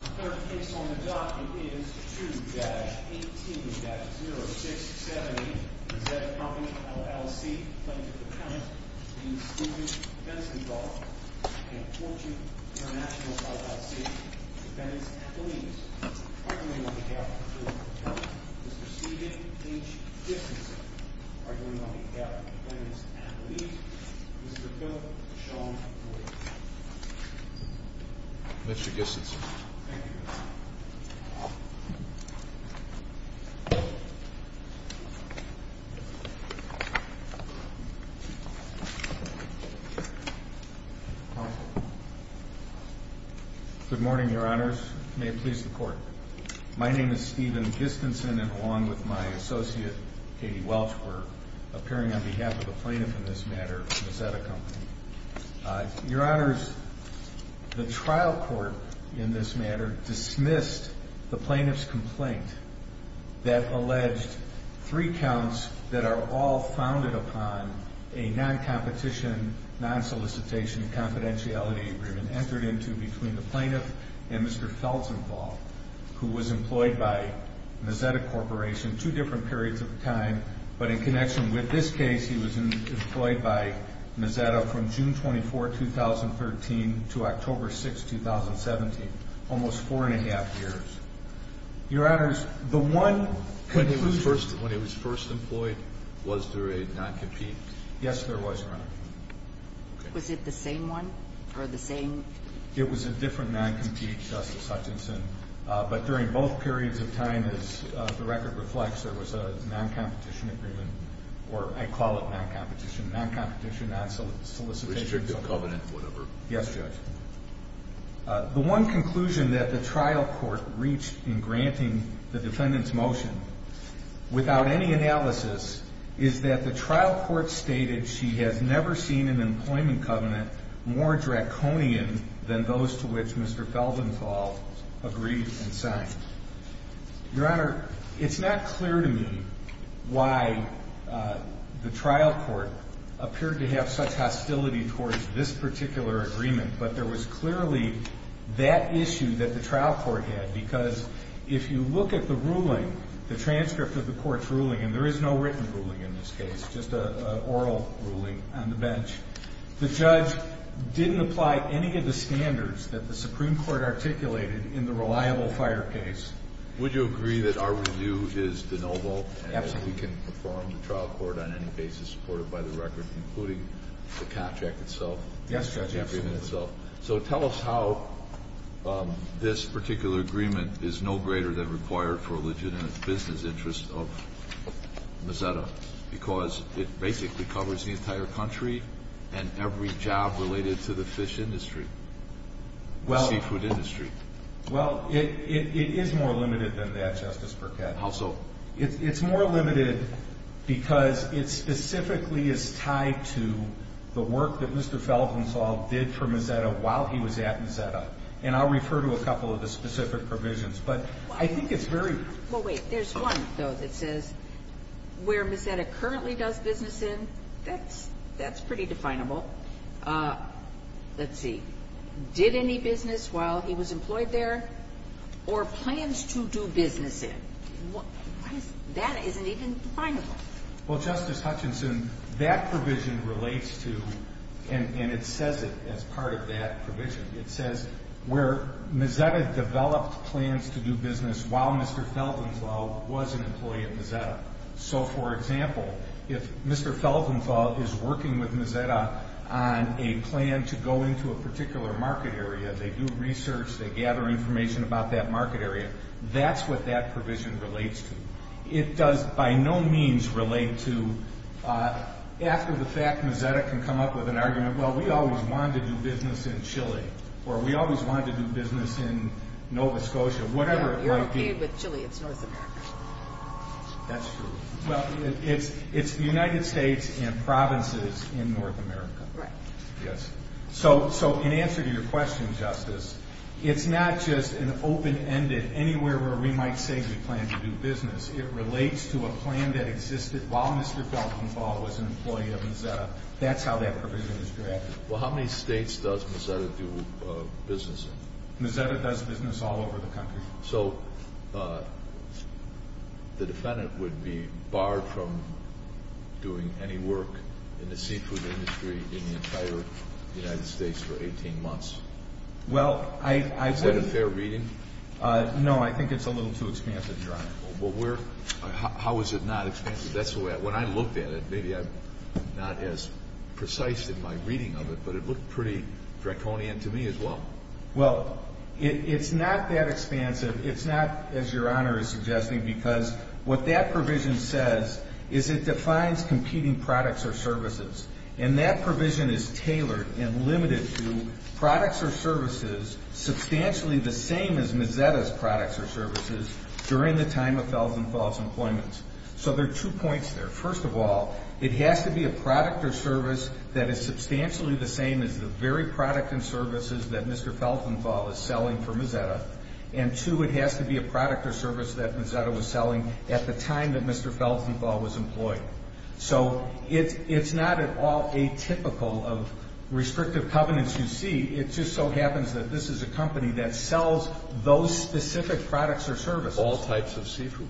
The third case on the docket is 2-18-0678, Mazzetta Company, LLC, plaintiff's account, v. Stevens, Felsenthal, and Fortune International, LLC, defendants' athletes, arguing on behalf of the plaintiff's account, Mr. Steven H. Dixonson, arguing on behalf of the defendants' athletes, Mr. Philip Sean Boyer. Mr. Dixonson. Thank you. Good morning, Your Honors. May it please the Court. My name is Steven Dixonson, and along with my associate, Katie Welch, we're appearing on behalf of the plaintiff in this matter, Mazzetta Company. Your Honors, the trial court in this matter dismissed the plaintiff's complaint that alleged three counts that are all founded upon a non-competition, non-solicitation confidentiality agreement entered into between the plaintiff and Mr. Felsenthal, who was employed by Mazzetta Corporation two different periods of time. But in connection with this case, he was employed by Mazzetta from June 24, 2013, to October 6, 2017, almost four and a half years. Your Honors, the one conclusion... When he was first employed, was there a non-compete? Yes, there was, Your Honor. Was it the same one, or the same... It was a different non-compete, Justice Hutchinson. But during both periods of time, as the record reflects, there was a non-competition agreement, or I call it non-competition, non-competition, non-solicitation... Rejected covenant, whatever. Yes, Judge. The one conclusion that the trial court reached in granting the defendant's motion, without any analysis, is that the trial court stated she has never seen an employment covenant more draconian than those to which Mr. Felsenthal agreed and signed. Your Honor, it's not clear to me why the trial court appeared to have such hostility towards this particular agreement. But there was clearly that issue that the trial court had. Because if you look at the ruling, the transcript of the court's ruling, and there is no written ruling in this case, just an oral ruling on the bench. The judge didn't apply any of the standards that the Supreme Court articulated in the reliable fire case. Would you agree that our review is de novo? Absolutely. And that we can perform the trial court on any basis supported by the record, including the contract itself? Yes, Judge. The agreement itself. So tell us how this particular agreement is no greater than required for a legitimate business interest of Mazzetta. Because it basically covers the entire country and every job related to the fish industry. The seafood industry. Well, it is more limited than that, Justice Burkett. How so? Well, it's more limited because it specifically is tied to the work that Mr. Feldenstahl did for Mazzetta while he was at Mazzetta. And I'll refer to a couple of the specific provisions. But I think it's very. Well, wait. There's one, though, that says where Mazzetta currently does business in, that's pretty definable. Let's see. Did any business while he was employed there? Or plans to do business in. That isn't even definable. Well, Justice Hutchinson, that provision relates to, and it says it as part of that provision. It says where Mazzetta developed plans to do business while Mr. Feldenstahl was an employee at Mazzetta. So, for example, if Mr. Feldenstahl is working with Mazzetta on a plan to go into a particular market area, they do research, they gather information about that market area, that's what that provision relates to. It does by no means relate to, after the fact, Mazzetta can come up with an argument, well, we always wanted to do business in Chile, or we always wanted to do business in Nova Scotia, whatever it might be. But if you're working with Chile, it's North America. That's true. Well, it's the United States and provinces in North America. Right. Yes. So, in answer to your question, Justice, it's not just an open-ended, anywhere where we might say we plan to do business. It relates to a plan that existed while Mr. Feldenstahl was an employee at Mazzetta. That's how that provision is drafted. Well, how many states does Mazzetta do business in? Mazzetta does business all over the country. So, the defendant would be barred from doing any work in the seafood industry in the entire United States for 18 months. Well, I wouldn't. Is that a fair reading? No, I think it's a little too expansive, Your Honor. Well, how is it not expansive? When I looked at it, maybe I'm not as precise in my reading of it, but it looked pretty draconian to me as well. Well, it's not that expansive. It's not, as Your Honor is suggesting, because what that provision says is it defines competing products or services. And that provision is tailored and limited to products or services substantially the same as Mazzetta's products or services during the time of Feldenstahl's employment. So, there are two points there. First of all, it has to be a product or service that is substantially the same as the very product and services that Mr. Feldenstahl is selling for Mazzetta. And, two, it has to be a product or service that Mazzetta was selling at the time that Mr. Feldenstahl was employed. So, it's not at all atypical of restrictive covenants you see. It just so happens that this is a company that sells those specific products or services. All types of seafood?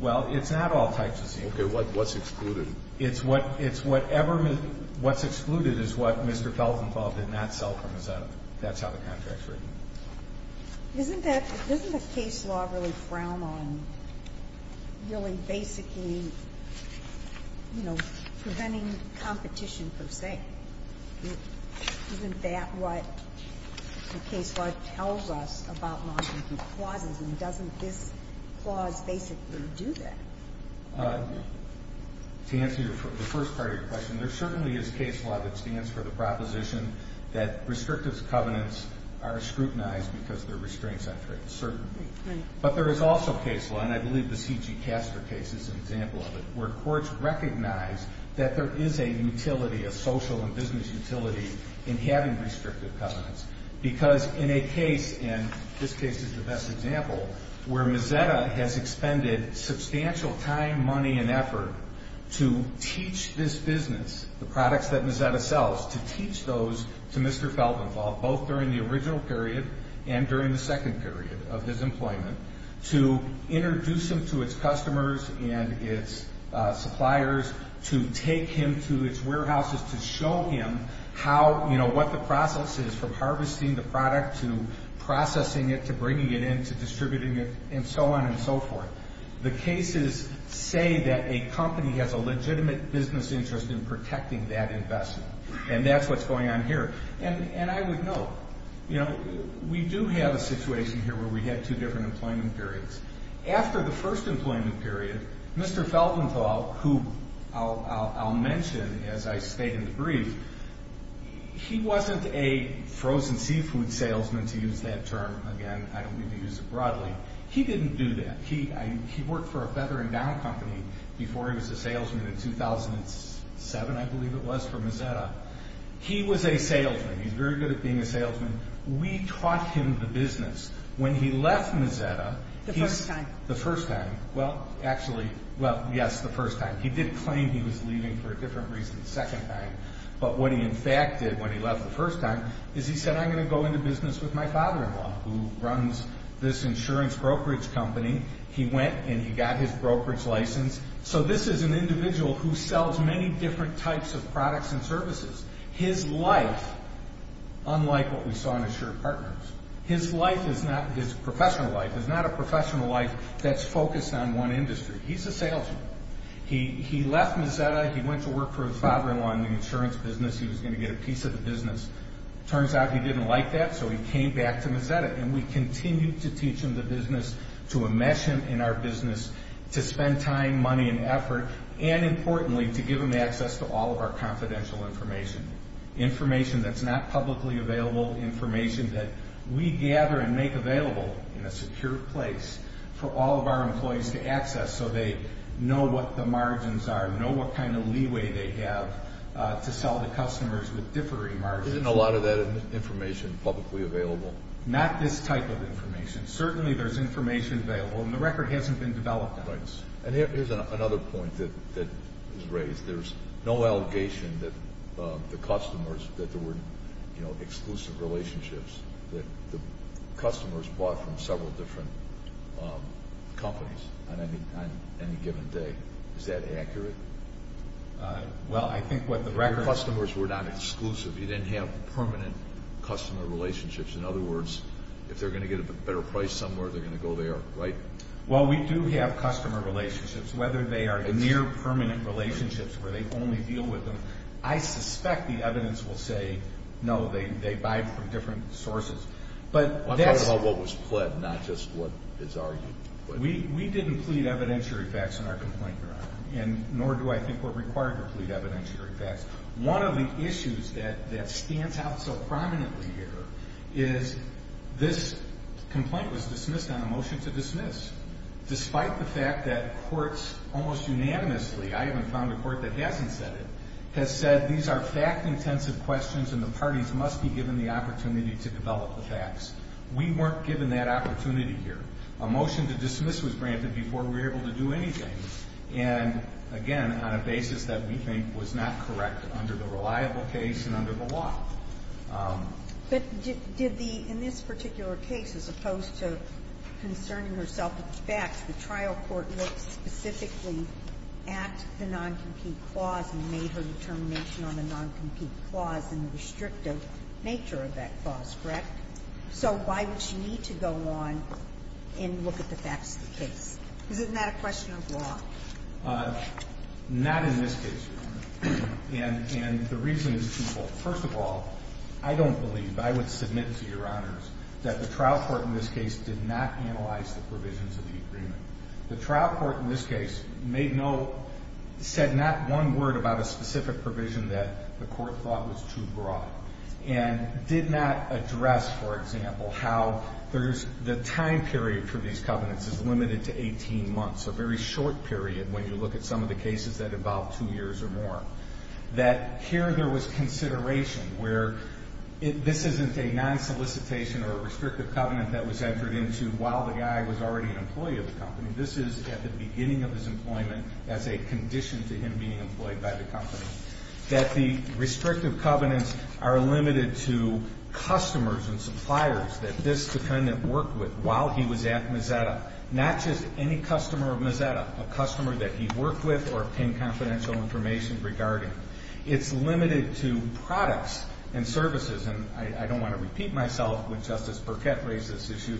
Well, it's not all types of seafood. Okay. What's excluded? It's whatever Mr. — what's excluded is what Mr. Feldenstahl did not sell for Mazzetta. That's how the contract's written. Isn't that — doesn't the case law really frown on really basically, you know, preventing competition per se? Isn't that what the case law tells us about law-abiding clauses? And doesn't this clause basically do that? To answer the first part of your question, there certainly is case law that stands for the proposition that restrictive covenants are scrutinized because they're restraints on trade. Certainly. But there is also case law, and I believe the C.G. Caster case is an example of it, where courts recognize that there is a utility, a social and business utility, in having restrictive covenants. Because in a case, and this case is the best example, where Mazzetta has expended substantial time, money, and effort to teach this business the products that Mazzetta sells, to teach those to Mr. Feldenstahl, both during the original period and during the second period of his employment, to introduce them to its customers and its suppliers, to take him to its warehouses to show him how, you know, what the process is from harvesting the product to processing it, to bringing it in, to distributing it, and so on and so forth. The cases say that a company has a legitimate business interest in protecting that investment. And that's what's going on here. And I would note, you know, we do have a situation here where we had two different employment periods. After the first employment period, Mr. Feldenstahl, who I'll mention as I state in the brief, he wasn't a frozen seafood salesman, to use that term. Again, I don't mean to use it broadly. He didn't do that. He worked for a Feather and Down Company before he was a salesman in 2007, I believe it was, for Mazzetta. He was a salesman. He's very good at being a salesman. We taught him the business. When he left Mazzetta, he's- The first time. The first time. Well, actually, well, yes, the first time. He did claim he was leaving for a different reason the second time. But what he, in fact, did when he left the first time is he said, I'm going to go into business with my father-in-law, who runs this insurance brokerage company. He went and he got his brokerage license. So this is an individual who sells many different types of products and services. His life, unlike what we saw in Assured Partners, his life is not- his professional life is not a professional life that's focused on one industry. He's a salesman. He left Mazzetta. He went to work for his father-in-law in the insurance business. He was going to get a piece of the business. Turns out he didn't like that, so he came back to Mazzetta. And we continued to teach him the business, to enmesh him in our business, to spend time, money, and effort, and importantly, to give him access to all of our confidential information, information that's not publicly available, information that we gather and make available in a secure place for all of our employees to access so they know what the margins are, know what kind of leeway they have to sell to customers with differing margins. Isn't a lot of that information publicly available? Not this type of information. Certainly there's information available, and the record hasn't been developed on this. And here's another point that was raised. There's no allegation that the customers, that there were exclusive relationships, that the customers bought from several different companies on any given day. Is that accurate? Well, I think what the record is. Your customers were not exclusive. You didn't have permanent customer relationships. In other words, if they're going to get a better price somewhere, they're going to go there, right? Well, we do have customer relationships. Whether they are near permanent relationships where they only deal with them, I suspect the evidence will say, no, they buy from different sources. I'm talking about what was pled, not just what is argued. We didn't plead evidentiary facts in our complaint, Your Honor, and nor do I think we're required to plead evidentiary facts. One of the issues that stands out so prominently here is this complaint was dismissed on a motion to dismiss. Despite the fact that courts almost unanimously, I haven't found a court that hasn't said it, has said these are fact-intensive questions and the parties must be given the opportunity to develop the facts. We weren't given that opportunity here. A motion to dismiss was granted before we were able to do anything. And, again, on a basis that we think was not correct under the reliable case and under the law. But did the, in this particular case, as opposed to concerning herself with facts, the trial court looked specifically at the non-compete clause and made her determination on the non-compete clause and the restrictive nature of that clause, correct? So why would she need to go on and look at the facts of the case? Isn't that a question of law? Not in this case, Your Honor. And the reason is, first of all, I don't believe, I would submit to Your Honors, that the trial court in this case did not analyze the provisions of the agreement. The trial court in this case made no, said not one word about a specific provision that the court thought was too broad. And did not address, for example, how the time period for these covenants is limited to 18 months, a very short period when you look at some of the cases that involve two years or more. That here there was consideration where this isn't a non-solicitation or a restrictive covenant that was entered into while the guy was already an employee of the company. This is at the beginning of his employment as a condition to him being employed by the company. That the restrictive covenants are limited to customers and suppliers that this defendant worked with while he was at Mozetta. Not just any customer of Mozetta. A customer that he worked with or obtained confidential information regarding. It's limited to products and services. And I don't want to repeat myself when Justice Burkett raised this issue.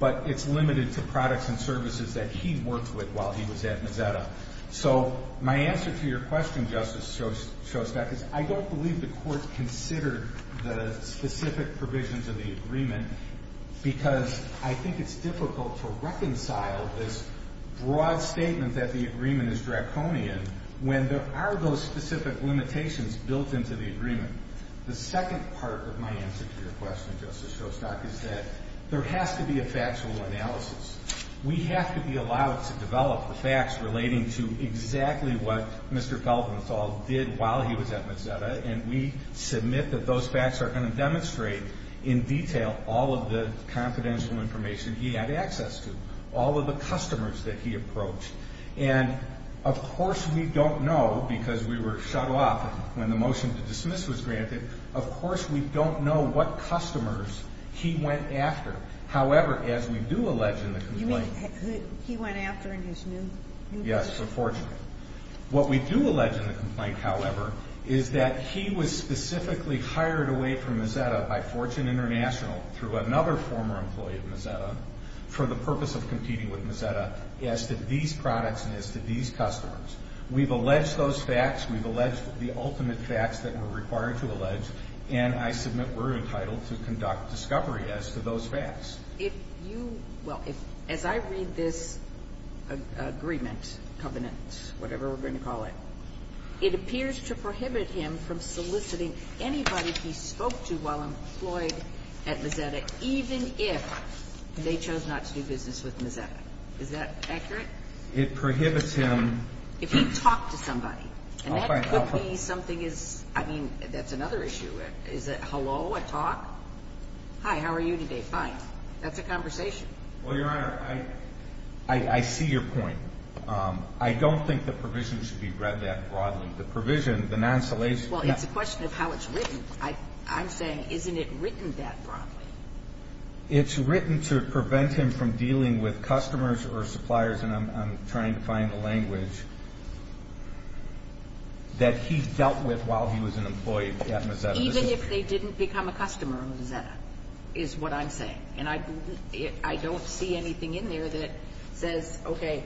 But it's limited to products and services that he worked with while he was at Mozetta. So my answer to your question, Justice Shostak, is I don't believe the court considered the specific provisions of the agreement. Because I think it's difficult to reconcile this broad statement that the agreement is draconian. When there are those specific limitations built into the agreement. The second part of my answer to your question, Justice Shostak, is that there has to be a factual analysis. We have to be allowed to develop the facts relating to exactly what Mr. Feldenstahl did while he was at Mozetta. And we submit that those facts are going to demonstrate in detail all of the confidential information he had access to. All of the customers that he approached. And of course we don't know because we were shut off when the motion to dismiss was granted. Of course we don't know what customers he went after. However, as we do allege in the complaint. You mean he went after in his new place? Yes, unfortunately. What we do allege in the complaint, however, is that he was specifically hired away from Mozetta by Fortune International through another former employee of Mozetta. For the purpose of competing with Mozetta as to these products and as to these customers. We've alleged those facts. We've alleged the ultimate facts that were required to allege. And I submit we're entitled to conduct discovery as to those facts. Well, as I read this agreement, covenant, whatever we're going to call it. It appears to prohibit him from soliciting anybody he spoke to while employed at Mozetta. Even if they chose not to do business with Mozetta. Is that accurate? It prohibits him. If he talked to somebody. And that could be something is. I mean, that's another issue. Is it hello? A talk? Hi, how are you today? Fine. That's a conversation. Well, Your Honor, I see your point. I don't think the provision should be read that broadly. The provision, the non-solation. Well, it's a question of how it's written. I'm saying, isn't it written that broadly? It's written to prevent him from dealing with customers or suppliers. And I'm trying to find the language that he dealt with while he was an employee at Mozetta. Even if they didn't become a customer of Mozetta is what I'm saying. And I don't see anything in there that says, okay.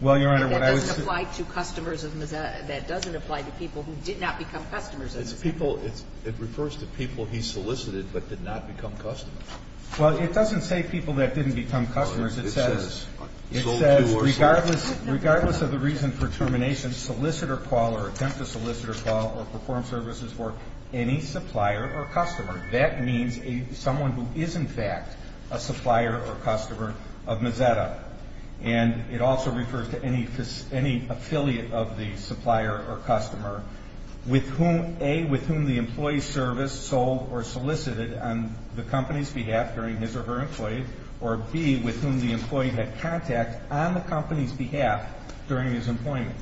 Well, Your Honor, what I was. That doesn't apply to customers of Mozetta. That doesn't apply to people who did not become customers. It's people. It refers to people he solicited but did not become customers. Well, it doesn't say people that didn't become customers. It says. It says regardless of the reason for termination, solicitor call or attempt to solicitor call or perform services for any supplier or customer. That means someone who is, in fact, a supplier or customer of Mozetta. And it also refers to any affiliate of the supplier or customer with whom, A, with whom the employee's service sold or solicited on the company's behalf during his or her employment, or, B, with whom the employee had contact on the company's behalf during his employment.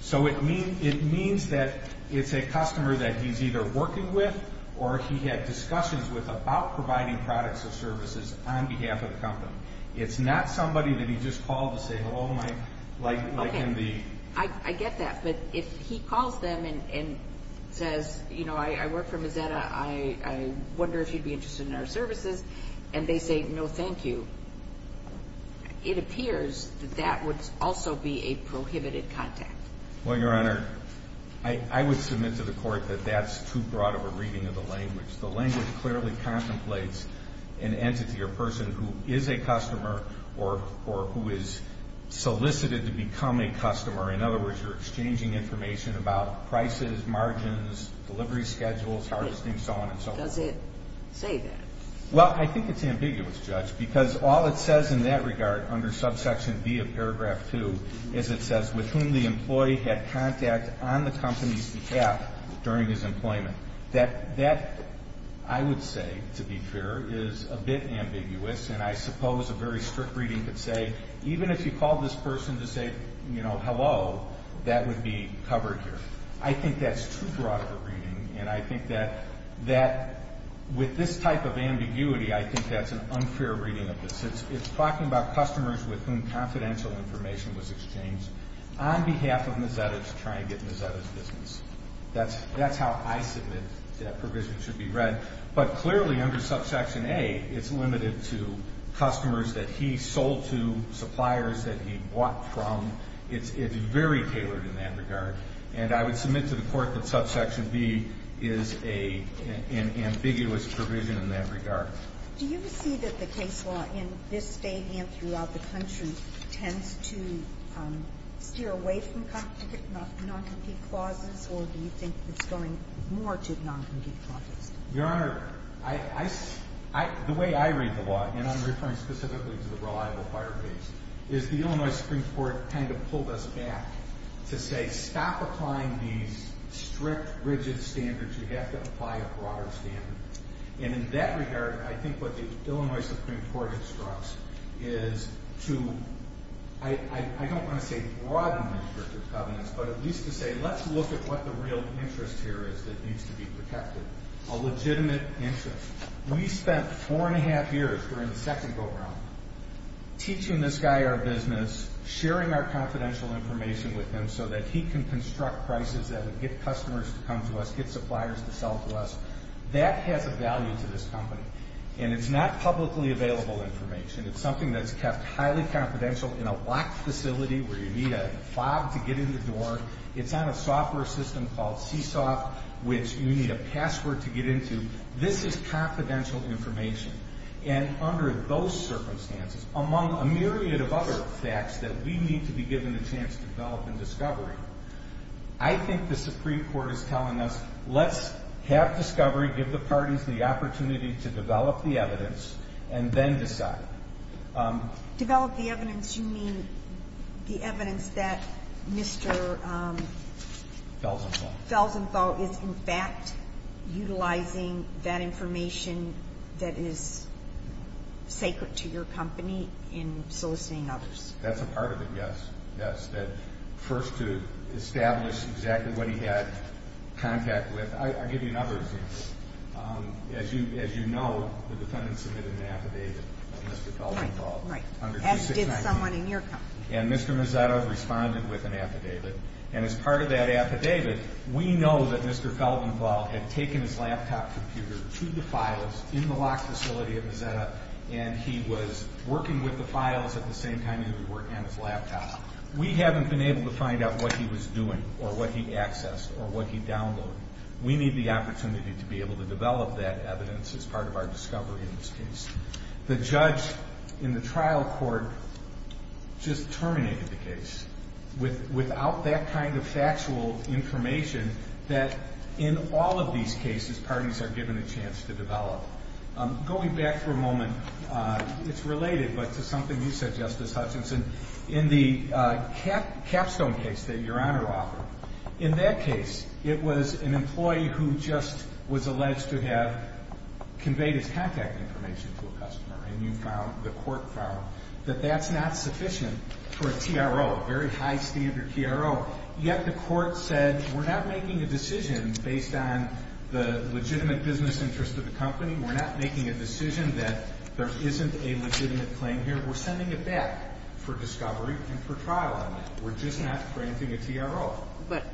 So it means that it's a customer that he's either working with or he had discussions with about providing products or services on behalf of the company. It's not somebody that he just called to say, hello, Mike, like in the. Okay. I get that. But if he calls them and says, you know, I work for Mozetta. I wonder if you'd be interested in our services. And they say, no, thank you. It appears that that would also be a prohibited contact. Well, Your Honor, I would submit to the court that that's too broad of a reading of the language. The language clearly contemplates an entity or person who is a customer or who is solicited to become a customer. In other words, you're exchanging information about prices, margins, delivery schedules, harvesting, so on and so forth. Does it say that? Well, I think it's ambiguous, Judge, because all it says in that regard under subsection B of paragraph 2 is it says, with whom the employee had contact on the company's behalf during his employment. That, I would say, to be fair, is a bit ambiguous. And I suppose a very strict reading could say, even if you called this person to say, you know, hello, that would be covered here. I think that's too broad of a reading. And I think that with this type of ambiguity, I think that's an unfair reading of this. It's talking about customers with whom confidential information was exchanged on behalf of Mozzetta to try and get Mozzetta's business. That's how I submit that provision should be read. But clearly under subsection A, it's limited to customers that he sold to, suppliers that he bought from. It's very tailored in that regard. And I would submit to the Court that subsection B is an ambiguous provision in that regard. Do you see that the case law in this State and throughout the country tends to steer away from noncompetent clauses? Or do you think it's going more to noncompetent clauses? Your Honor, the way I read the law, and I'm referring specifically to the Reliable Fire Case, is the Illinois Supreme Court kind of pulled us back to say, stop applying these strict, rigid standards. You have to apply a broader standard. And in that regard, I think what the Illinois Supreme Court instructs is to, I don't want to say broaden restrictive covenants, but at least to say, let's look at what the real interest here is that needs to be protected, a legitimate interest. We spent four and a half years during the second go-around teaching this guy our business, sharing our confidential information with him so that he can construct prices that would get customers to come to us, get suppliers to sell to us. That has a value to this company. And it's not publicly available information. It's something that's kept highly confidential in a locked facility where you need a fob to get in the door. It's on a software system called CSOFT, which you need a password to get into. This is confidential information. And under those circumstances, among a myriad of other facts that we need to be given a chance to develop in discovery, I think the Supreme Court is telling us, let's have discovery, give the parties the opportunity to develop the evidence, and then decide. Develop the evidence. You mean the evidence that Mr. Felsenthal is in fact utilizing that information that is sacred to your company in soliciting others? That's a part of it, yes. Yes, that first to establish exactly what he had contact with. I'll give you another example. As you know, the defendant submitted an affidavit of Mr. Felsenthal. Right, right. As did someone in your company. And Mr. Mazzetta responded with an affidavit. And as part of that affidavit, we know that Mr. Felsenthal had taken his laptop computer to the files in the locked facility at Mazzetta, and he was working with the files at the same time that he was working on his laptop. We haven't been able to find out what he was doing or what he accessed or what he downloaded. We need the opportunity to be able to develop that evidence as part of our discovery in this case. The judge in the trial court just terminated the case without that kind of factual information that in all of these cases parties are given a chance to develop. Going back for a moment, it's related, but to something you said, Justice Hutchinson, in the Capstone case that Your Honor offered, in that case, it was an employee who just was alleged to have conveyed his contact information to a customer, and you found, the court found, that that's not sufficient for a TRO, a very high standard TRO. Yet the court said, we're not making a decision based on the legitimate business interest of the company. We're not making a decision that there isn't a legitimate claim here. We're sending it back for discovery and for trial on that. We're just not granting a TRO. But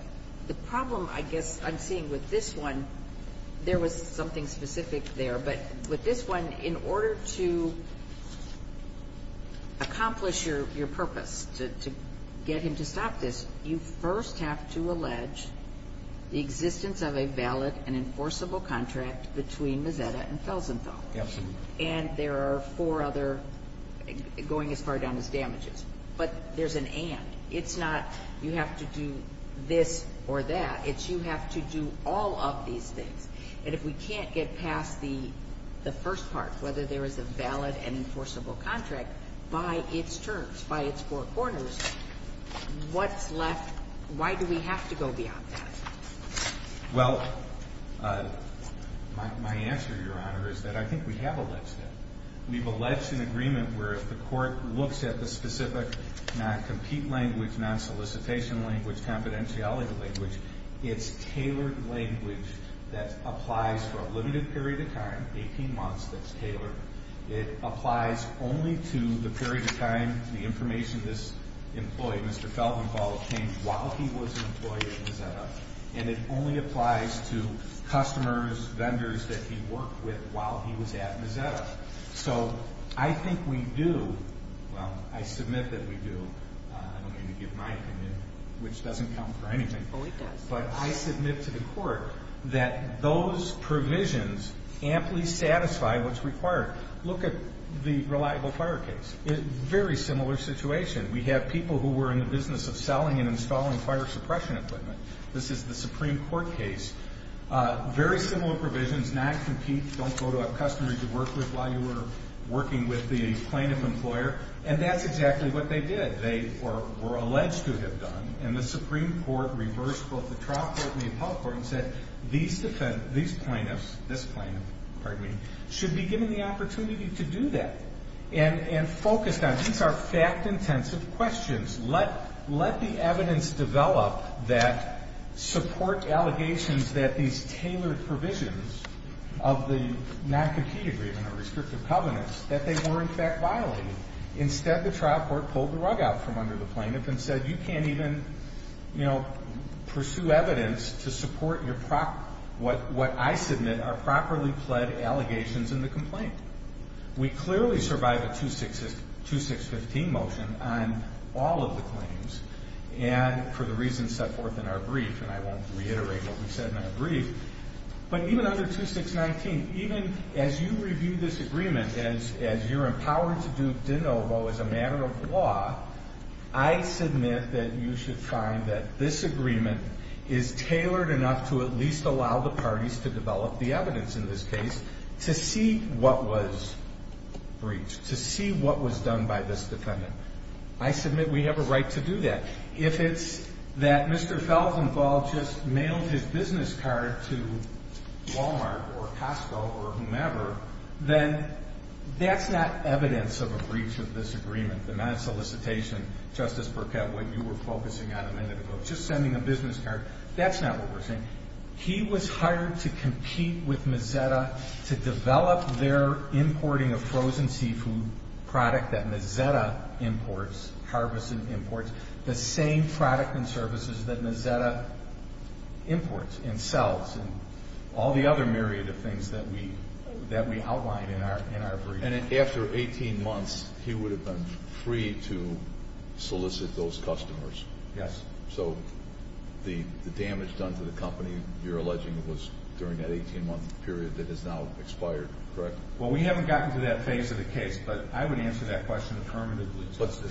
the problem I guess I'm seeing with this one, there was something specific there, but with this one, in order to accomplish your purpose, to get him to stop this, you first have to allege the existence of a valid and enforceable contract between Mazzetta and Felsenthal. Absolutely. And there are four other going as far down as damages. But there's an and. It's not you have to do this or that. It's you have to do all of these things. And if we can't get past the first part, whether there is a valid and enforceable contract, by its terms, by its four corners, what's left? Why do we have to go beyond that? Well, my answer, Your Honor, is that I think we have alleged that. We've alleged an agreement where if the court looks at the specific non-compete language, non-solicitation language, confidentiality language, it's tailored language that applies for a limited period of time, 18 months, that's tailored. It applies only to the period of time the information is employed. Mr. Felsenthal came while he was an employee at Mazzetta. And it only applies to customers, vendors that he worked with while he was at Mazzetta. So I think we do. Well, I submit that we do. I don't mean to give my opinion, which doesn't count for anything. Oh, it does. But I submit to the court that those provisions amply satisfy what's required. Look at the reliable fire case. Very similar situation. We have people who were in the business of selling and installing fire suppression equipment. This is the Supreme Court case. Very similar provisions, non-compete, don't go to a customer you worked with while you were working with the plaintiff employer. And that's exactly what they did. They were alleged to have done. And the Supreme Court reversed both the trial court and the appellate court and said, these plaintiffs should be given the opportunity to do that. And focused on, these are fact-intensive questions. Let the evidence develop that support allegations that these tailored provisions of the non-compete agreement or restrictive covenants that they were, in fact, violated. Instead, the trial court pulled the rug out from under the plaintiff and said, you can't even pursue evidence to support what I submit are properly pled allegations in the complaint. We clearly survived a 2615 motion on all of the claims. And for the reasons set forth in our brief, and I won't reiterate what we said in our brief, but even under 2619, even as you review this agreement, as you're empowered to do de novo as a matter of law, I submit that you should find that this agreement is tailored enough to at least allow the parties to develop the evidence in this case to see what was breached, to see what was done by this defendant. I submit we have a right to do that. If it's that Mr. Felsenfeld just mailed his business card to Walmart or Costco or whomever, then that's not evidence of a breach of this agreement, the non-solicitation, Justice Burkett, what you were focusing on a minute ago, just sending a business card. That's not what we're saying. He was hired to compete with Mazetta to develop their importing of frozen seafood product that Mazetta imports, harvests and imports, the same product and services that Mazetta imports and sells and all the other myriad of things that we outlined in our brief. And after 18 months, he would have been free to solicit those customers. Yes. So the damage done to the company you're alleging was during that 18-month period that has now expired, correct? Well, we haven't gotten to that phase of the case, but I would answer that question affirmatively, Justice.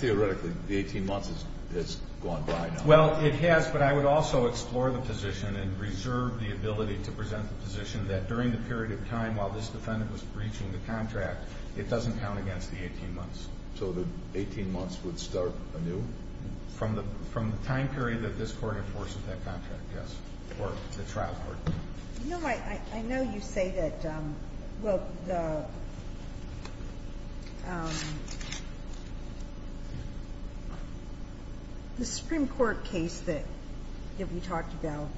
Theoretically, the 18 months has gone by now. Well, it has, but I would also explore the position and reserve the ability to present the position that during the period of time while this defendant was breaching the contract, it doesn't count against the 18 months. So the 18 months would start anew? From the time period that this Court enforces that contract, yes, or the trial court. You know, I know you say that, well, the Supreme Court case that we talked about,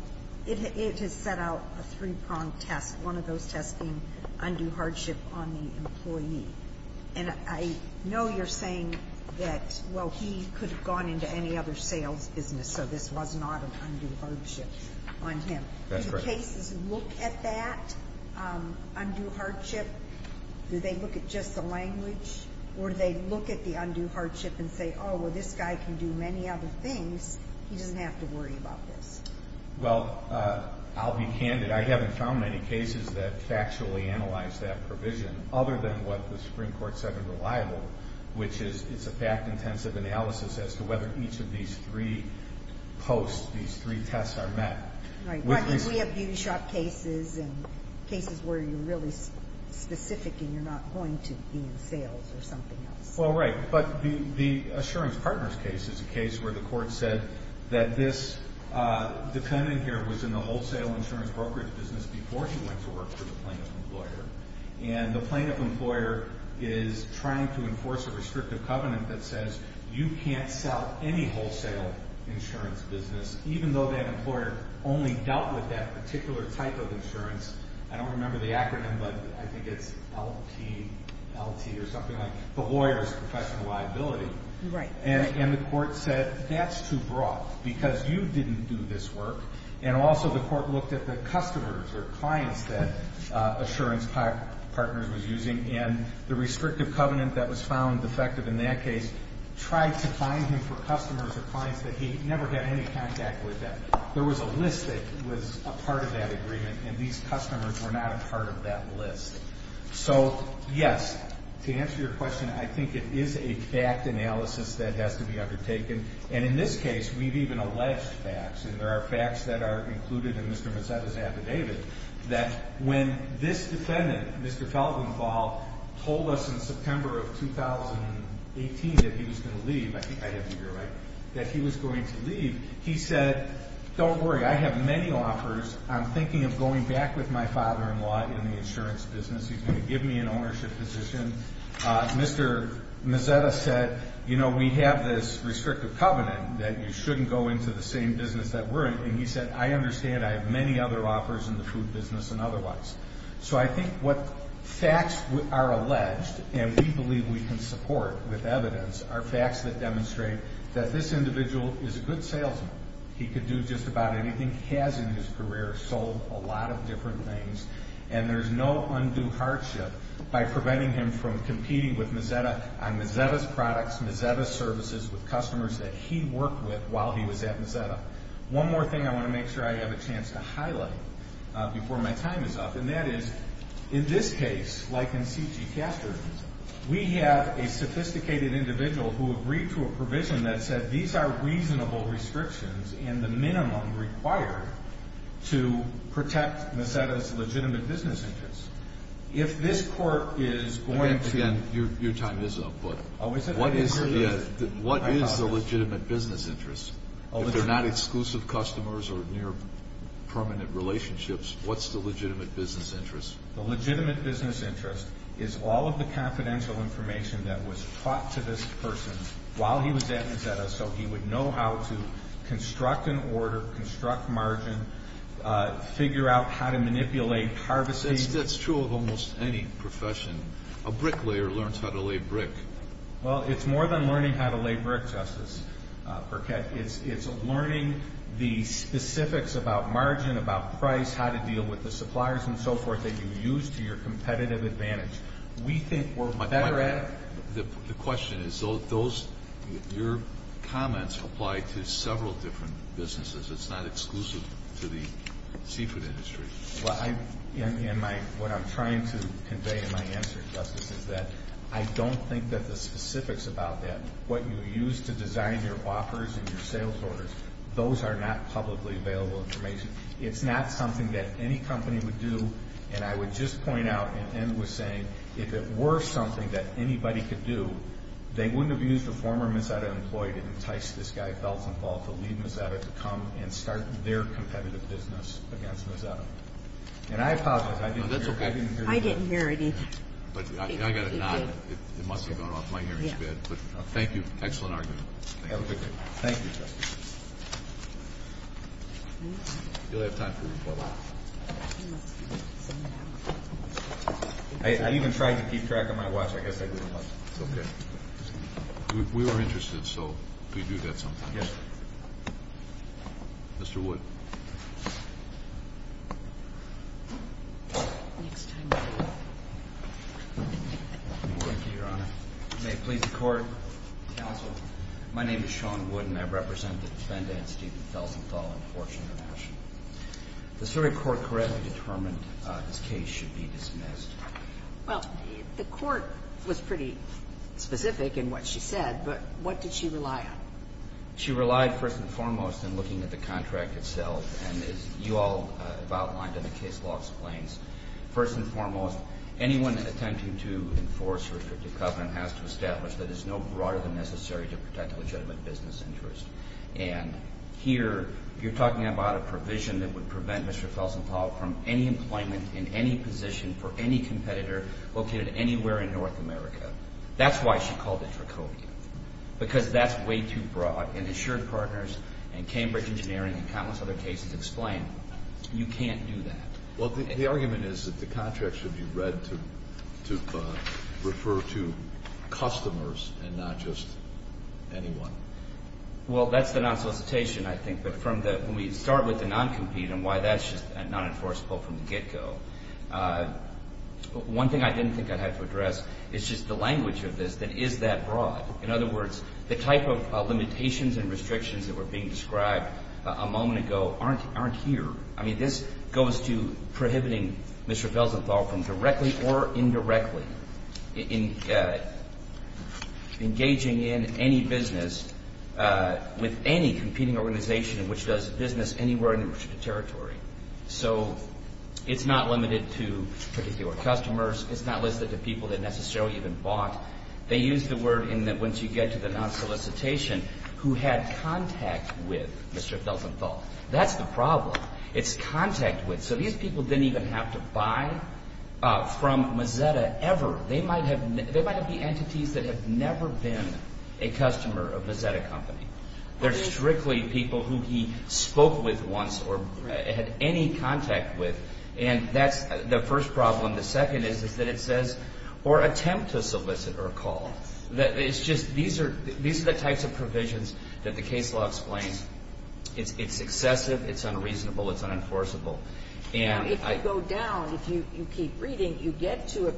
it has set out a three-pronged test, one of those tests being undue hardship on the employee. And I know you're saying that, well, he could have gone into any other sales business, so this was not an undue hardship on him. That's right. Do the cases look at that undue hardship? Do they look at just the language? Or do they look at the undue hardship and say, oh, well, this guy can do many other things. He doesn't have to worry about this. Well, I'll be candid. I haven't found many cases that factually analyze that provision, other than what the Supreme Court said in Reliable, which is it's a fact-intensive analysis as to whether each of these three posts, these three tests are met. Right. We have beauty shop cases and cases where you're really specific and you're not going to be in sales or something else. Well, right. But the Assurance Partners case is a case where the Court said that this defendant here was in the wholesale insurance brokerage business before he went to work for the plaintiff employer, and the plaintiff employer is trying to enforce a restrictive covenant that says you can't sell any wholesale insurance business, even though that employer only dealt with that particular type of insurance. I don't remember the acronym, but I think it's LT or something like the lawyer's professional liability. Right. And the Court said that's too broad because you didn't do this work and also the Court looked at the customers or clients that Assurance Partners was using and the restrictive covenant that was found defective in that case tried to fine him for customers or clients that he never had any contact with. There was a list that was a part of that agreement, and these customers were not a part of that list. So, yes, to answer your question, I think it is a fact analysis that has to be undertaken, and in this case, we've even alleged facts, and there are facts that are included in Mr. Mazzetta's affidavit that when this defendant, Mr. Felgenfall, told us in September of 2018 that he was going to leave, I think I have to be right, that he was going to leave, he said, don't worry, I have many offers. I'm thinking of going back with my father-in-law in the insurance business. He's going to give me an ownership position. Mr. Mazzetta said, you know, we have this restrictive covenant that you shouldn't go into the same business that we're in, and he said, I understand, I have many other offers in the food business and otherwise. So I think what facts are alleged, and we believe we can support with evidence, are facts that demonstrate that this individual is a good salesman. He could do just about anything he has in his career, sold a lot of different things, and there's no undue hardship by preventing him from competing with Mazzetta on Mazzetta's products, Mazzetta's services, with customers that he worked with while he was at Mazzetta. One more thing I want to make sure I have a chance to highlight before my time is up, and that is in this case, like in C.G. Castro, we have a sophisticated individual who agreed to a provision that said these are reasonable restrictions and the minimum required to protect Mazzetta's legitimate business interests. If this court is going to do this. Again, your time is up, but what is the legitimate business interest? If they're not exclusive customers or near permanent relationships, what's the legitimate business interest? The legitimate business interest is all of the confidential information that was taught to this person while he was at Mazzetta so he would know how to construct an order, construct margin, figure out how to manipulate harvesting. That's true of almost any profession. A bricklayer learns how to lay brick. Well, it's more than learning how to lay brick, Justice Burkett. It's learning the specifics about margin, about price, how to deal with the suppliers and so forth that you use to your competitive advantage. The question is, your comments apply to several different businesses. It's not exclusive to the seafood industry. What I'm trying to convey in my answer, Justice, is that I don't think that the specifics about that, what you use to design your offers and your sales orders, those are not publicly available information. It's not something that any company would do. And I would just point out, and Em was saying, if it were something that anybody could do, they wouldn't have used a former Mazzetta employee to entice this guy, Feltzenfall, to leave Mazzetta to come and start their competitive business against Mazzetta. And I apologize. I didn't hear you. I didn't hear it either. I got a nod. It must have gone off my hearing a bit. Thank you. Excellent argument. Thank you, Justice. You'll have time for rebuttal. I even tried to keep track on my watch. I guess I didn't like it. It's okay. We were interested, so we do that sometimes. Yes. Mr. Wood. Thank you, Your Honor. May it please the Court. Counsel. My name is Sean Wood, and I represent the defendant, Stephen Feltzenfall, in Fortune International. The Surrey Court correctly determined this case should be dismissed. Well, the Court was pretty specific in what she said, but what did she rely on? She relied, first and foremost, on looking at the contract itself. And as you all have outlined in the case law explains, first and foremost, anyone attempting to enforce a restrictive covenant has to establish that it's no broader than necessary to protect a legitimate business interest. And here, you're talking about a provision that would prevent Mr. Feltzenfall from any employment in any position for any competitor located anywhere in North America. That's why she called it Dracovia, because that's way too broad. And assured partners and Cambridge Engineering and countless other cases explain, you can't do that. Well, the argument is that the contract should be read to refer to customers and not just anyone. Well, that's the non-solicitation, I think. But when we start with the non-compete and why that's just not enforceable from the get-go, one thing I didn't think I'd have to address is just the language of this that is that broad. In other words, the type of limitations and restrictions that were being described a moment ago aren't here. I mean, this goes to prohibiting Mr. Feltzenfall from directly or indirectly engaging in any business with any competing organization which does business anywhere in the territory. So it's not limited to particular customers. It's not listed to people that necessarily even bought. They use the word in that once you get to the non-solicitation, who had contact with Mr. Feltzenfall. That's the problem. It's contact with. So these people didn't even have to buy from Mozetta ever. They might have been entities that have never been a customer of Mozetta Company. They're strictly people who he spoke with once or had any contact with. And that's the first problem. The second is that it says, or attempt to solicit or call. These are the types of provisions that the case law explains. It's excessive. It's unreasonable. It's unenforceable. Now, if you go down, if you keep reading, you get to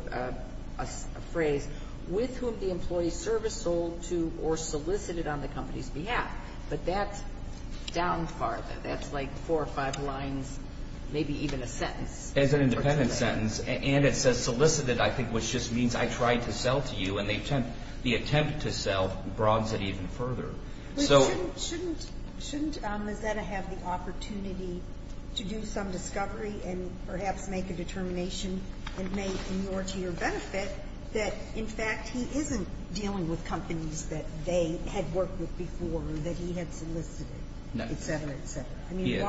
a phrase, with whom the employee service sold to or solicited on the company's behalf. But that's down farther. That's like four or five lines, maybe even a sentence. It's an independent sentence. And it says solicited, I think, which just means I tried to sell to you. And the attempt to sell broads it even further. But shouldn't Mozetta have the opportunity to do some discovery and perhaps make a determination that may be more to your benefit that, in fact, he isn't dealing with companies that they had worked with before or that he had solicited, et cetera, et cetera? I mean,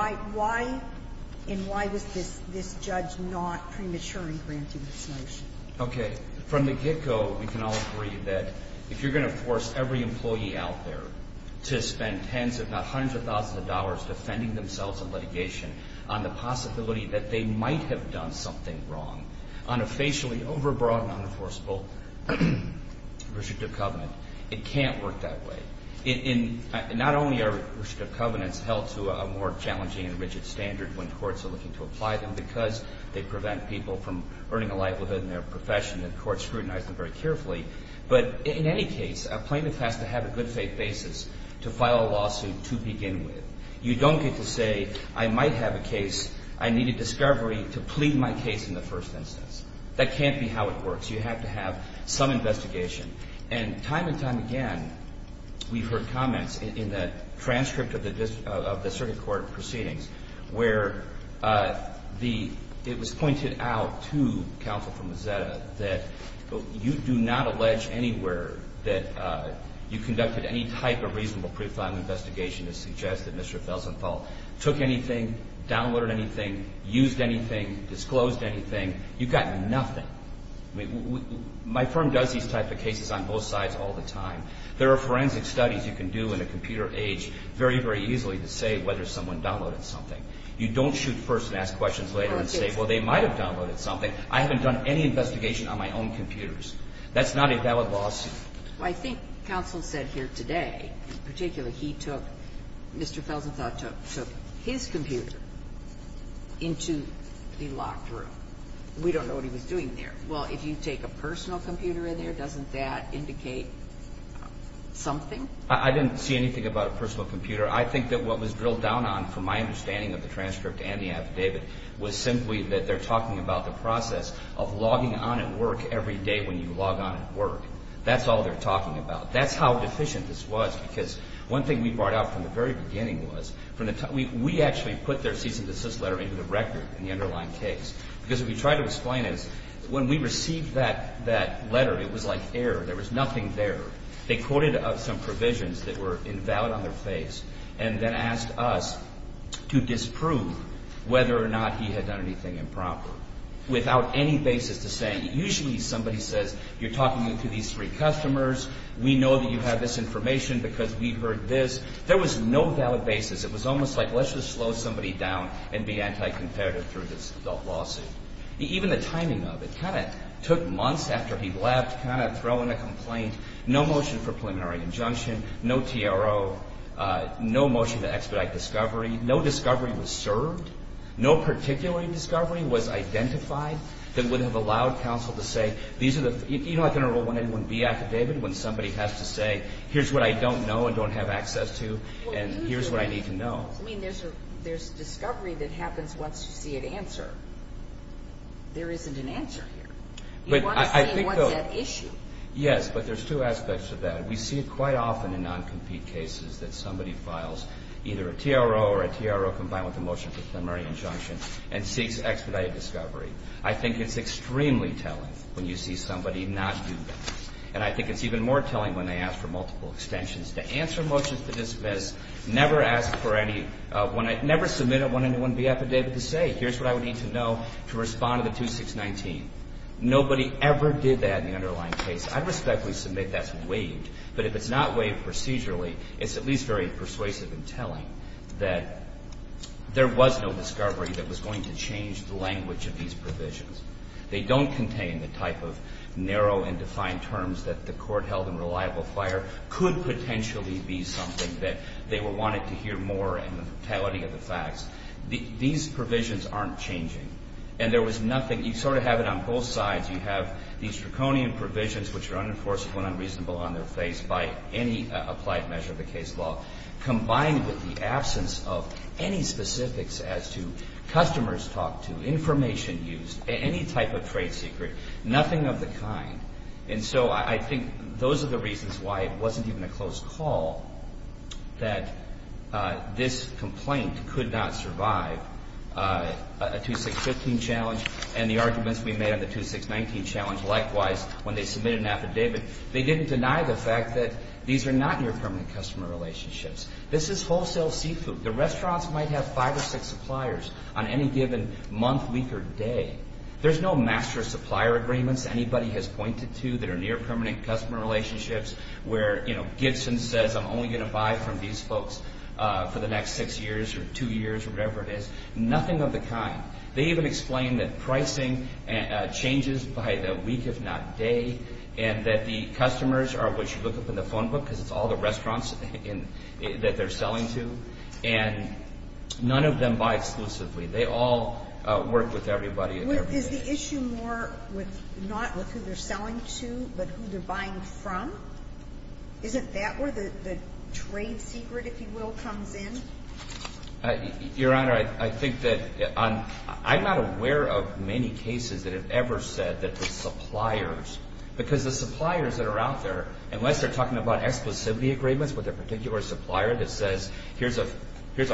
why was this judge not premature in granting this notion? Okay. From the get-go, we can all agree that if you're going to force every employee out there to spend tens if not hundreds of thousands of dollars defending themselves in litigation on the possibility that they might have done something wrong on a facially overbroad and unenforceable restrictive covenant, it can't work that way. Not only are restrictive covenants held to a more challenging and rigid standard when courts are looking to apply them because they prevent people from earning a livelihood in their profession and courts scrutinize them very carefully, but in any case, a plaintiff has to have a good faith basis to file a lawsuit to begin with. You don't get to say, I might have a case. I need a discovery to plead my case in the first instance. That can't be how it works. You have to have some investigation. And time and time again, we've heard comments in the transcript of the Circuit Court of Proceedings where it was pointed out to counsel from Mozetta that you do not allege anywhere that you conducted any type of reasonable pre-file investigation to suggest that Mr. Felsenthal took anything, downloaded anything, used anything, disclosed anything. You've gotten nothing. My firm does these type of cases on both sides all the time. There are forensic studies you can do in a computer age very, very easily to say whether someone downloaded something. You don't shoot first and ask questions later and say, well, they might have downloaded something. I haven't done any investigation on my own computers. That's not a valid lawsuit. Well, I think counsel said here today, in particular, he took Mr. Felsenthal took his computer into the locked room. We don't know what he was doing there. Well, if you take a personal computer in there, doesn't that indicate something? I didn't see anything about a personal computer. I think that what was drilled down on, from my understanding of the transcript and the affidavit, was simply that they're talking about the process of logging on at work every day when you log on at work. That's all they're talking about. That's how deficient this was because one thing we brought up from the very beginning was we actually put their cease and desist letter into the record in the underlying case because what we tried to explain is when we received that letter, it was like air. There was nothing there. They quoted some provisions that were invalid on their face and then asked us to disprove whether or not he had done anything improper. Without any basis to say, usually somebody says, you're talking to these three customers. We know that you have this information because we've heard this. There was no valid basis. It was almost like, let's just slow somebody down and be anti-competitive through this adult lawsuit. Even the timing of it. It kind of took months after he left to kind of throw in a complaint. No motion for preliminary injunction. No TRO. No motion to expedite discovery. No discovery was served. No particular discovery was identified that would have allowed counsel to say, you know like in a 1A1B affidavit when somebody has to say, here's what I don't know and don't have access to and here's what I need to know. There's discovery that happens once you see an answer. There isn't an answer here. You want to see what's at issue. Yes, but there's two aspects to that. We see it quite often in non-compete cases that somebody files either a TRO or a TRO combined with a motion for preliminary injunction and seeks expedited discovery. I think it's extremely telling when you see somebody not do this. And I think it's even more telling when they ask for multiple extensions. To answer motions to dismiss, never ask for any, never submit a 1A1B affidavit to say, here's what I would need to know to respond to the 2619. Nobody ever did that in the underlying case. I respectfully submit that's waived. But if it's not waived procedurally, it's at least very persuasive and telling that there was no discovery that was going to change the language of these provisions. They don't contain the type of narrow and defined terms that the court held in reliable fire could potentially be something that they wanted to hear more in the totality of the facts. These provisions aren't changing. And there was nothing, you sort of have it on both sides. You have these draconian provisions which are unenforceable and unreasonable on their face by any applied measure of the case law, combined with the absence of any specifics as to customers talked to, information used, any type of trade secret, nothing of the kind. And so I think those are the reasons why it wasn't even a close call that this complaint could not survive a 2615 challenge and the arguments we made on the 2619 challenge. Likewise, when they submitted an affidavit, they didn't deny the fact that these are not near-permanent customer relationships. This is wholesale seafood. The restaurants might have five or six suppliers on any given month, week, or day. There's no master supplier agreements anybody has pointed to that are near-permanent customer relationships where, you know, Gibson says I'm only going to buy from these folks for the next six years or two years or whatever it is, nothing of the kind. They even explain that pricing changes by the week, if not day, and that the customers are what you look up in the phone book because it's all the restaurants that they're selling to. And none of them buy exclusively. They all work with everybody. Is the issue more not with who they're selling to but who they're buying from? Isn't that where the trade secret, if you will, comes in? Your Honor, I think that I'm not aware of many cases that have ever said that the suppliers because the suppliers that are out there, unless they're talking about exclusivity agreements with their particular supplier that says here's a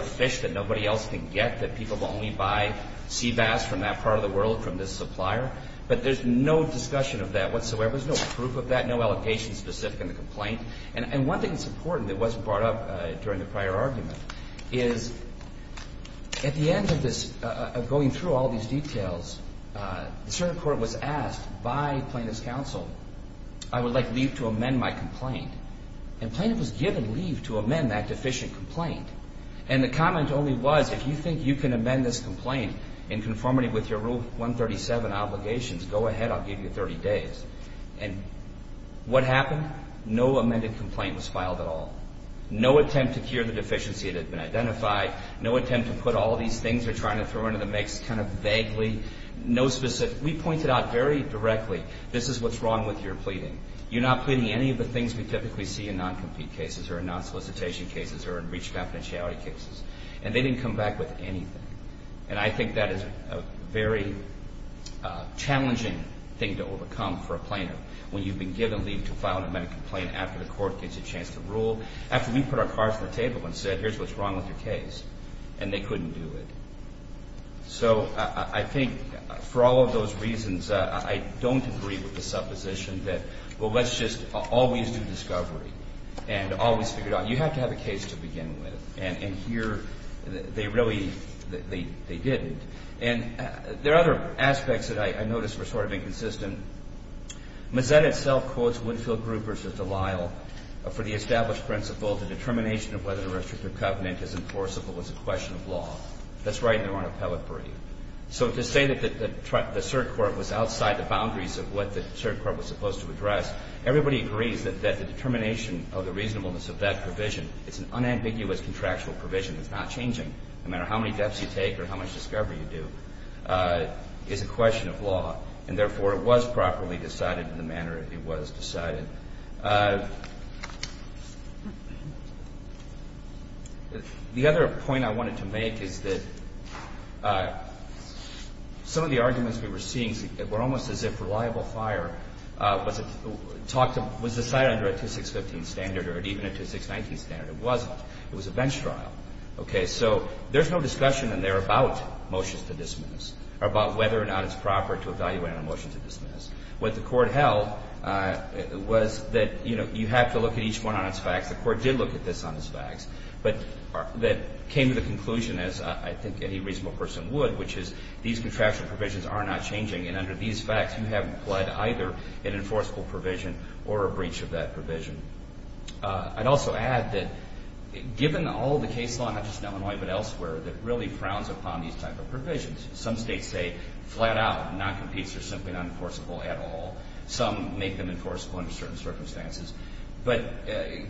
fish that nobody else can get, that people will only buy sea bass from that part of the world from this supplier, but there's no discussion of that whatsoever. There's no proof of that, no allocation specific in the complaint. And one thing that's important that wasn't brought up during the prior argument is at the end of going through all these details, a certain court was asked by plaintiff's counsel, I would like leave to amend my complaint. And plaintiff was given leave to amend that deficient complaint. And the comment only was if you think you can amend this complaint in conformity with your Rule 137 obligations, go ahead, I'll give you 30 days. And what happened? No amended complaint was filed at all. No attempt to cure the deficiency that had been identified. No attempt to put all these things they're trying to throw into the mix kind of vaguely. We pointed out very directly this is what's wrong with your pleading. You're not pleading any of the things we typically see in non-compete cases or in non-solicitation cases or in reach confidentiality cases. And they didn't come back with anything. And I think that is a very challenging thing to overcome for a plaintiff when you've been given leave to file an amended complaint after the court gets a chance to rule, after we put our cards on the table and said here's what's wrong with your case. And they couldn't do it. So I think for all of those reasons, I don't agree with the supposition that, well, let's just always do discovery and always figure it out. You have to have a case to begin with. And here they really didn't. And there are other aspects that I noticed were sort of inconsistent. Mazet itself quotes Woodfield Group v. Delisle, for the established principle the determination of whether the restrictive covenant is enforceable is a question of law. That's right in their own appellate brief. So to say that the cert court was outside the boundaries of what the cert court was supposed to address, everybody agrees that the determination of the reasonableness of that provision is an unambiguous contractual provision that's not changing, no matter how many deaths you take or how much discovery you do, is a question of law. And therefore, it was properly decided in the manner it was decided. The other point I wanted to make is that some of the arguments we were seeing were almost as if reliable fire was decided under a 2615 standard or even a 2619 standard. It wasn't. It was a bench trial. Okay. So there's no discussion in there about motions to dismiss or about whether or not it's proper to evaluate on a motion to dismiss. What the court held was that, you know, you have to look at each one on its facts. The court did look at this on its facts. But that came to the conclusion, as I think any reasonable person would, which is these contractual provisions are not changing. And under these facts, you have applied either an enforceable provision or a breach of that provision. I'd also add that given all the case law, not just in Illinois but elsewhere, that really frowns upon these type of provisions. Some states say flat out, non-competes, they're simply not enforceable at all. Some make them enforceable under certain circumstances. But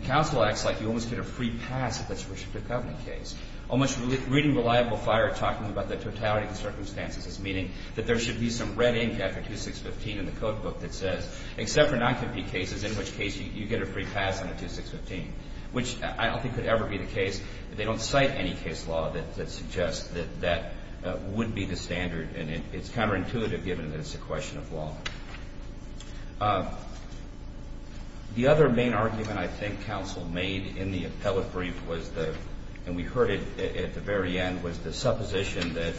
counsel acts like you almost get a free pass if it's a restrictive covenant case. Almost reading reliable fire, talking about the totality of the circumstances, meaning that there should be some red ink after 2615 in the code book that says except for non-compete cases in which case you get a free pass under 2615, which I don't think could ever be the case. They don't cite any case law that suggests that that would be the standard. And it's counterintuitive given that it's a question of law. The other main argument I think counsel made in the appellate brief was the And we heard it at the very end, was the supposition that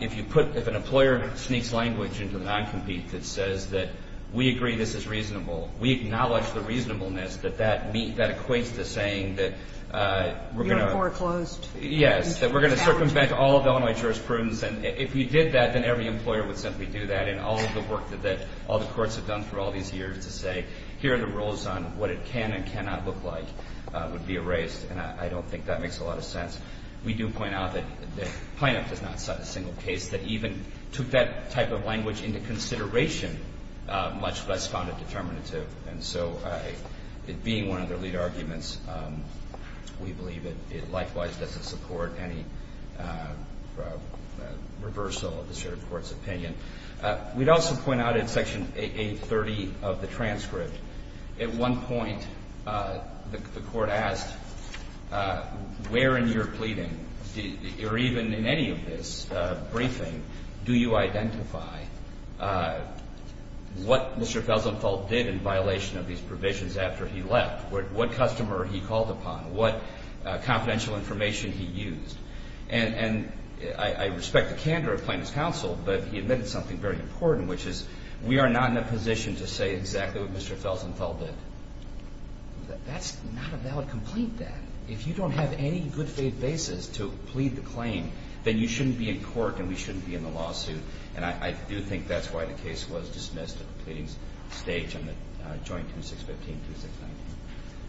if you put – if an employer sneaks language into the non-compete that says that we agree this is reasonable, we acknowledge the reasonableness that that equates to saying that we're going to – You're foreclosed. Yes, that we're going to circumvent all of Illinois jurisprudence. And if you did that, then every employer would simply do that. And all of the work that all the courts have done through all these years to say here are the rules on what it can and cannot look like would be erased. And I don't think that makes a lot of sense. We do point out that Planoff does not cite a single case that even took that type of language into consideration, much less found it determinative. And so it being one of their lead arguments, we believe it likewise doesn't support any reversal of the shared court's opinion. We'd also point out in Section 830 of the transcript, at one point the Court asked where in your pleading, or even in any of this briefing, do you identify what Mr. Felsenthal did in violation of these provisions after he left? What customer he called upon? What confidential information he used? And I respect the candor of Planoff's counsel, but he admitted something very important, which is we are not in a position to say exactly what Mr. Felsenthal did. That's not a valid complaint then. If you don't have any good faith basis to plead the claim, then you shouldn't be in court and we shouldn't be in the lawsuit. And I do think that's why the case was dismissed at the pleading stage in the Joint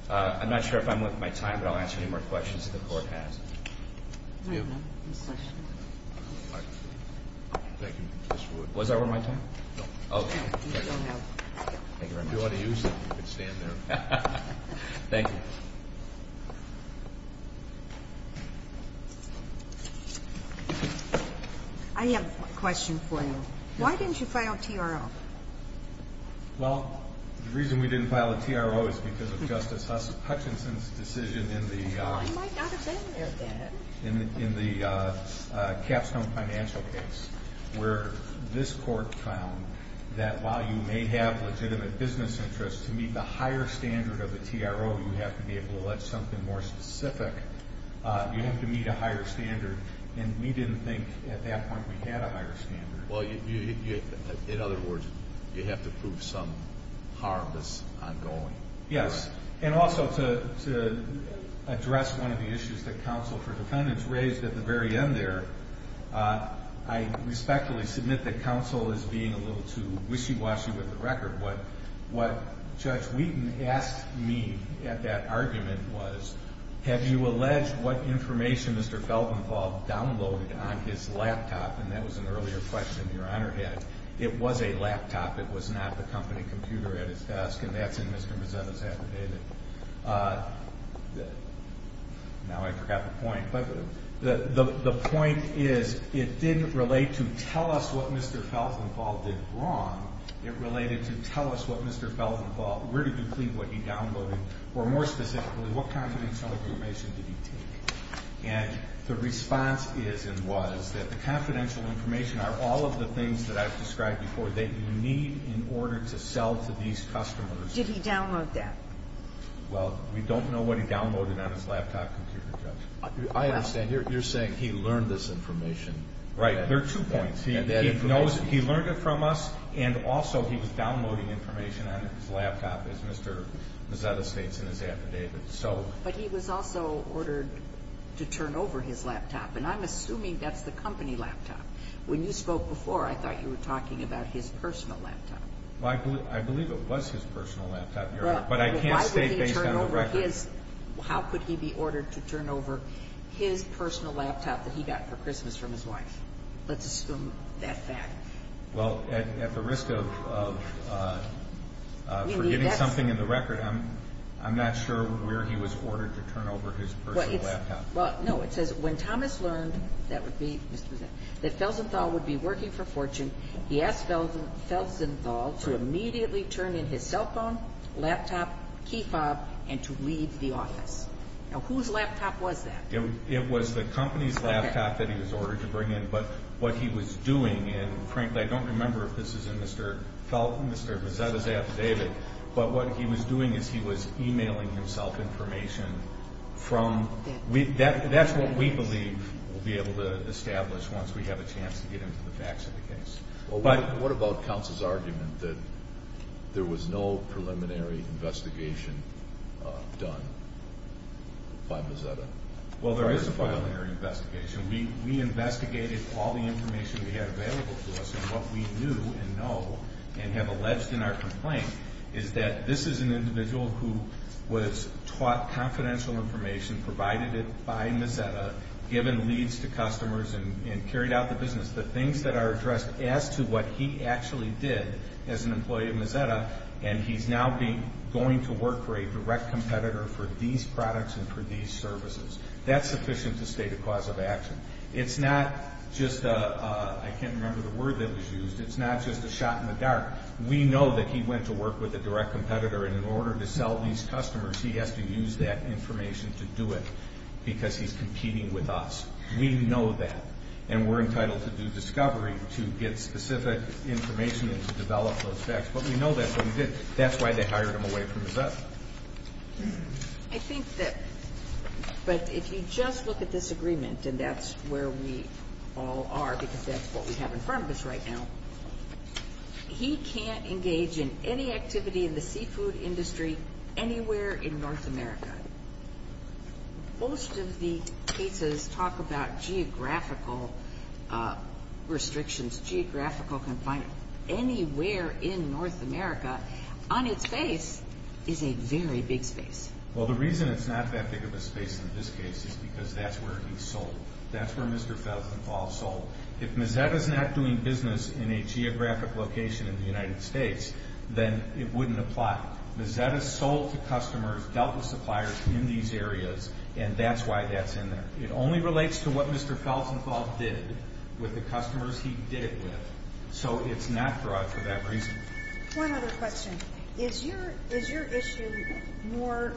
2615-2619. I'm not sure if I'm worth my time, but I'll answer any more questions that the Court has. Thank you, Mr. Wood. Was that worth my time? No. Thank you very much. If you want to use it, you can stand there. Thank you. I have a question for you. Why didn't you file a TRO? Well, the reason we didn't file a TRO is because of Justice Hutchinson's decision in the Well, I might not have been there then. Capstone Financial case, where this Court found that while you may have legitimate business interests, to meet the higher standard of a TRO, you have to be able to let something more specific. You have to meet a higher standard, and we didn't think at that point we had a higher standard. Well, in other words, you have to prove some harm that's ongoing. Yes. And also, to address one of the issues that counsel for defendants raised at the very end there, I respectfully submit that counsel is being a little too wishy-washy with the record. What Judge Wheaton asked me at that argument was, have you alleged what information Mr. Feldenfald downloaded on his laptop? And that was an earlier question Your Honor had. It was a laptop. It was not the company computer at his desk, and that's in Mr. Mazzetta's affidavit. Now I forgot the point, but the point is, it didn't relate to tell us what Mr. Feldenfald did wrong. It related to tell us what Mr. Feldenfald, where did you think what he downloaded, or more specifically, what confidential information did he take? And the response is and was that the confidential information are all of the things that I've described before, that you need in order to sell to these customers. Did he download that? Well, we don't know what he downloaded on his laptop computer, Judge. I understand. You're saying he learned this information. Right. There are two points. He learned it from us, and also he was downloading information on his laptop, as Mr. Mazzetta states in his affidavit. But he was also ordered to turn over his laptop, and I'm assuming that's the company laptop. When you spoke before, I thought you were talking about his personal laptop. Well, I believe it was his personal laptop, Your Honor, but I can't state based on the record. Well, why would he turn over his? How could he be ordered to turn over his personal laptop that he got for Christmas from his wife? Let's assume that fact. Well, at the risk of forgetting something in the record, I'm not sure where he was ordered to turn over his personal laptop. Well, no, it says when Thomas learned that Felsenthal would be working for Fortune, he asked Felsenthal to immediately turn in his cell phone, laptop, key fob, and to leave the office. Now, whose laptop was that? It was the company's laptop that he was ordered to bring in. But what he was doing, and frankly, I don't remember if this is in Mr. Mazzetta's affidavit, but what he was doing is he was e-mailing himself information. That's what we believe we'll be able to establish once we have a chance to get into the facts of the case. Well, what about counsel's argument that there was no preliminary investigation done by Mazzetta? Well, there is a preliminary investigation. We investigated all the information we had available to us and what we knew and know and have alleged in our complaint is that this is an individual who was taught confidential information, provided it by Mazzetta, given leads to customers, and carried out the business. The things that are addressed as to what he actually did as an employee of Mazzetta, and he's now going to work for a direct competitor for these products and for these services, I can't remember the word that was used. It's not just a shot in the dark. We know that he went to work with a direct competitor, and in order to sell these customers, he has to use that information to do it because he's competing with us. We know that, and we're entitled to do discovery to get specific information and to develop those facts. But we know that's what he did. That's why they hired him away from Mazzetta. I think that, but if you just look at this agreement, and that's where we all are because that's what we have in front of us right now, he can't engage in any activity in the seafood industry anywhere in North America. Most of the cases talk about geographical restrictions, geographical confinement. Anywhere in North America, on its face, is a very big space. Well, the reason it's not that big of a space in this case is because that's where he sold. That's where Mr. Feltzenfall sold. If Mazzetta's not doing business in a geographic location in the United States, then it wouldn't apply. Mazzetta sold to customers, dealt with suppliers in these areas, and that's why that's in there. It only relates to what Mr. Feltzenfall did with the customers he did it with, so it's not broad for that reason. One other question. Is your issue more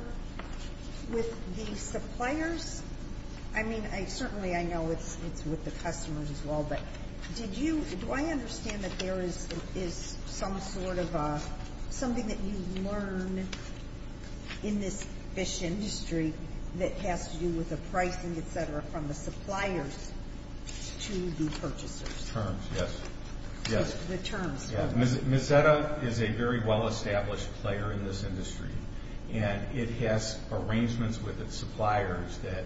with the suppliers? I mean, certainly I know it's with the customers as well, but do I understand that there is some sort of something that you learn in this fish industry that has to do with the pricing, et cetera, from the suppliers to the purchasers? With terms, yes. With terms. Mazzetta is a very well-established player in this industry, and it has arrangements with its suppliers that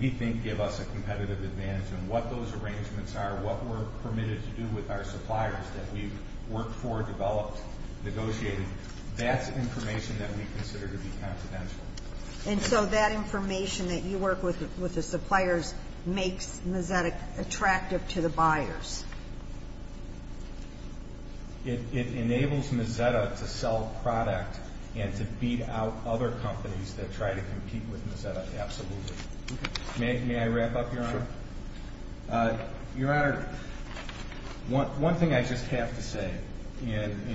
we think give us a competitive advantage. And what those arrangements are, what we're permitted to do with our suppliers that we've worked for, developed, negotiated, that's information that we consider to be confidential. And so that information that you work with the suppliers makes Mazzetta attractive to the buyers. It enables Mazzetta to sell product and to beat out other companies that try to compete with Mazzetta, absolutely. Okay. May I wrap up, Your Honor? Sure. Your Honor, one thing I just have to say, and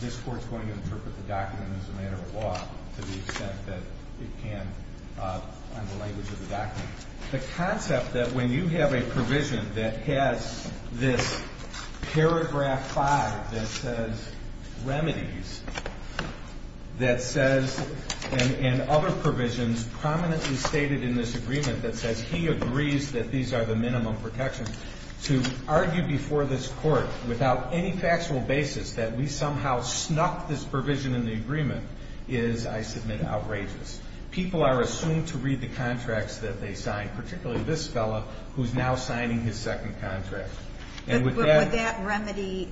this Court's going to interpret the document as a matter of law to the extent that it can on the language of the document. The concept that when you have a provision that has this paragraph 5 that says remedies, that says, and other provisions prominently stated in this agreement that says he agrees that these are the minimum protections, to argue before this Court without any factual basis that we somehow snuck this provision in the agreement is, I submit, outrageous. People are assumed to read the contracts that they sign, particularly this fellow who's now signing his second contract. But would that remedy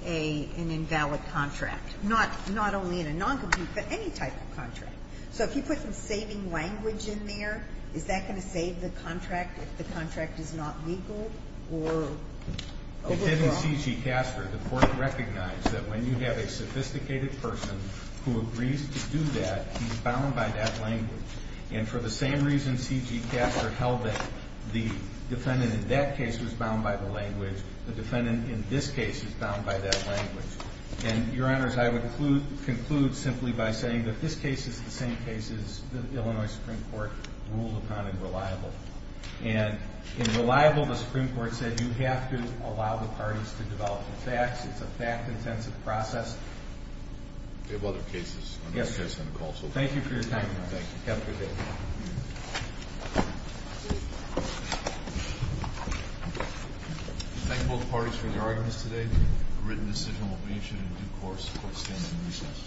an invalid contract, not only in a noncompetent, but any type of contract? So if you put some saving language in there, is that going to save the contract if the contract is not legal or overgrown? It did in C.G. Caster. The Court recognized that when you have a sophisticated person who agrees to do that, he's bound by that language. And for the same reason C.G. Caster held that the defendant in that case was bound by the language, the defendant in this case is bound by that language. And, Your Honors, I would conclude simply by saying that this case is the same case as the Illinois Supreme Court ruled upon in Reliable. And in Reliable, the Supreme Court said you have to allow the parties to develop the facts. It's a fact-intensive process. We have other cases on this case on the call. Thank you for your time, Your Honor. Thank you. Have a good day. Thank both parties for their arguments today. The written decision will be issued in due course for standing reasons.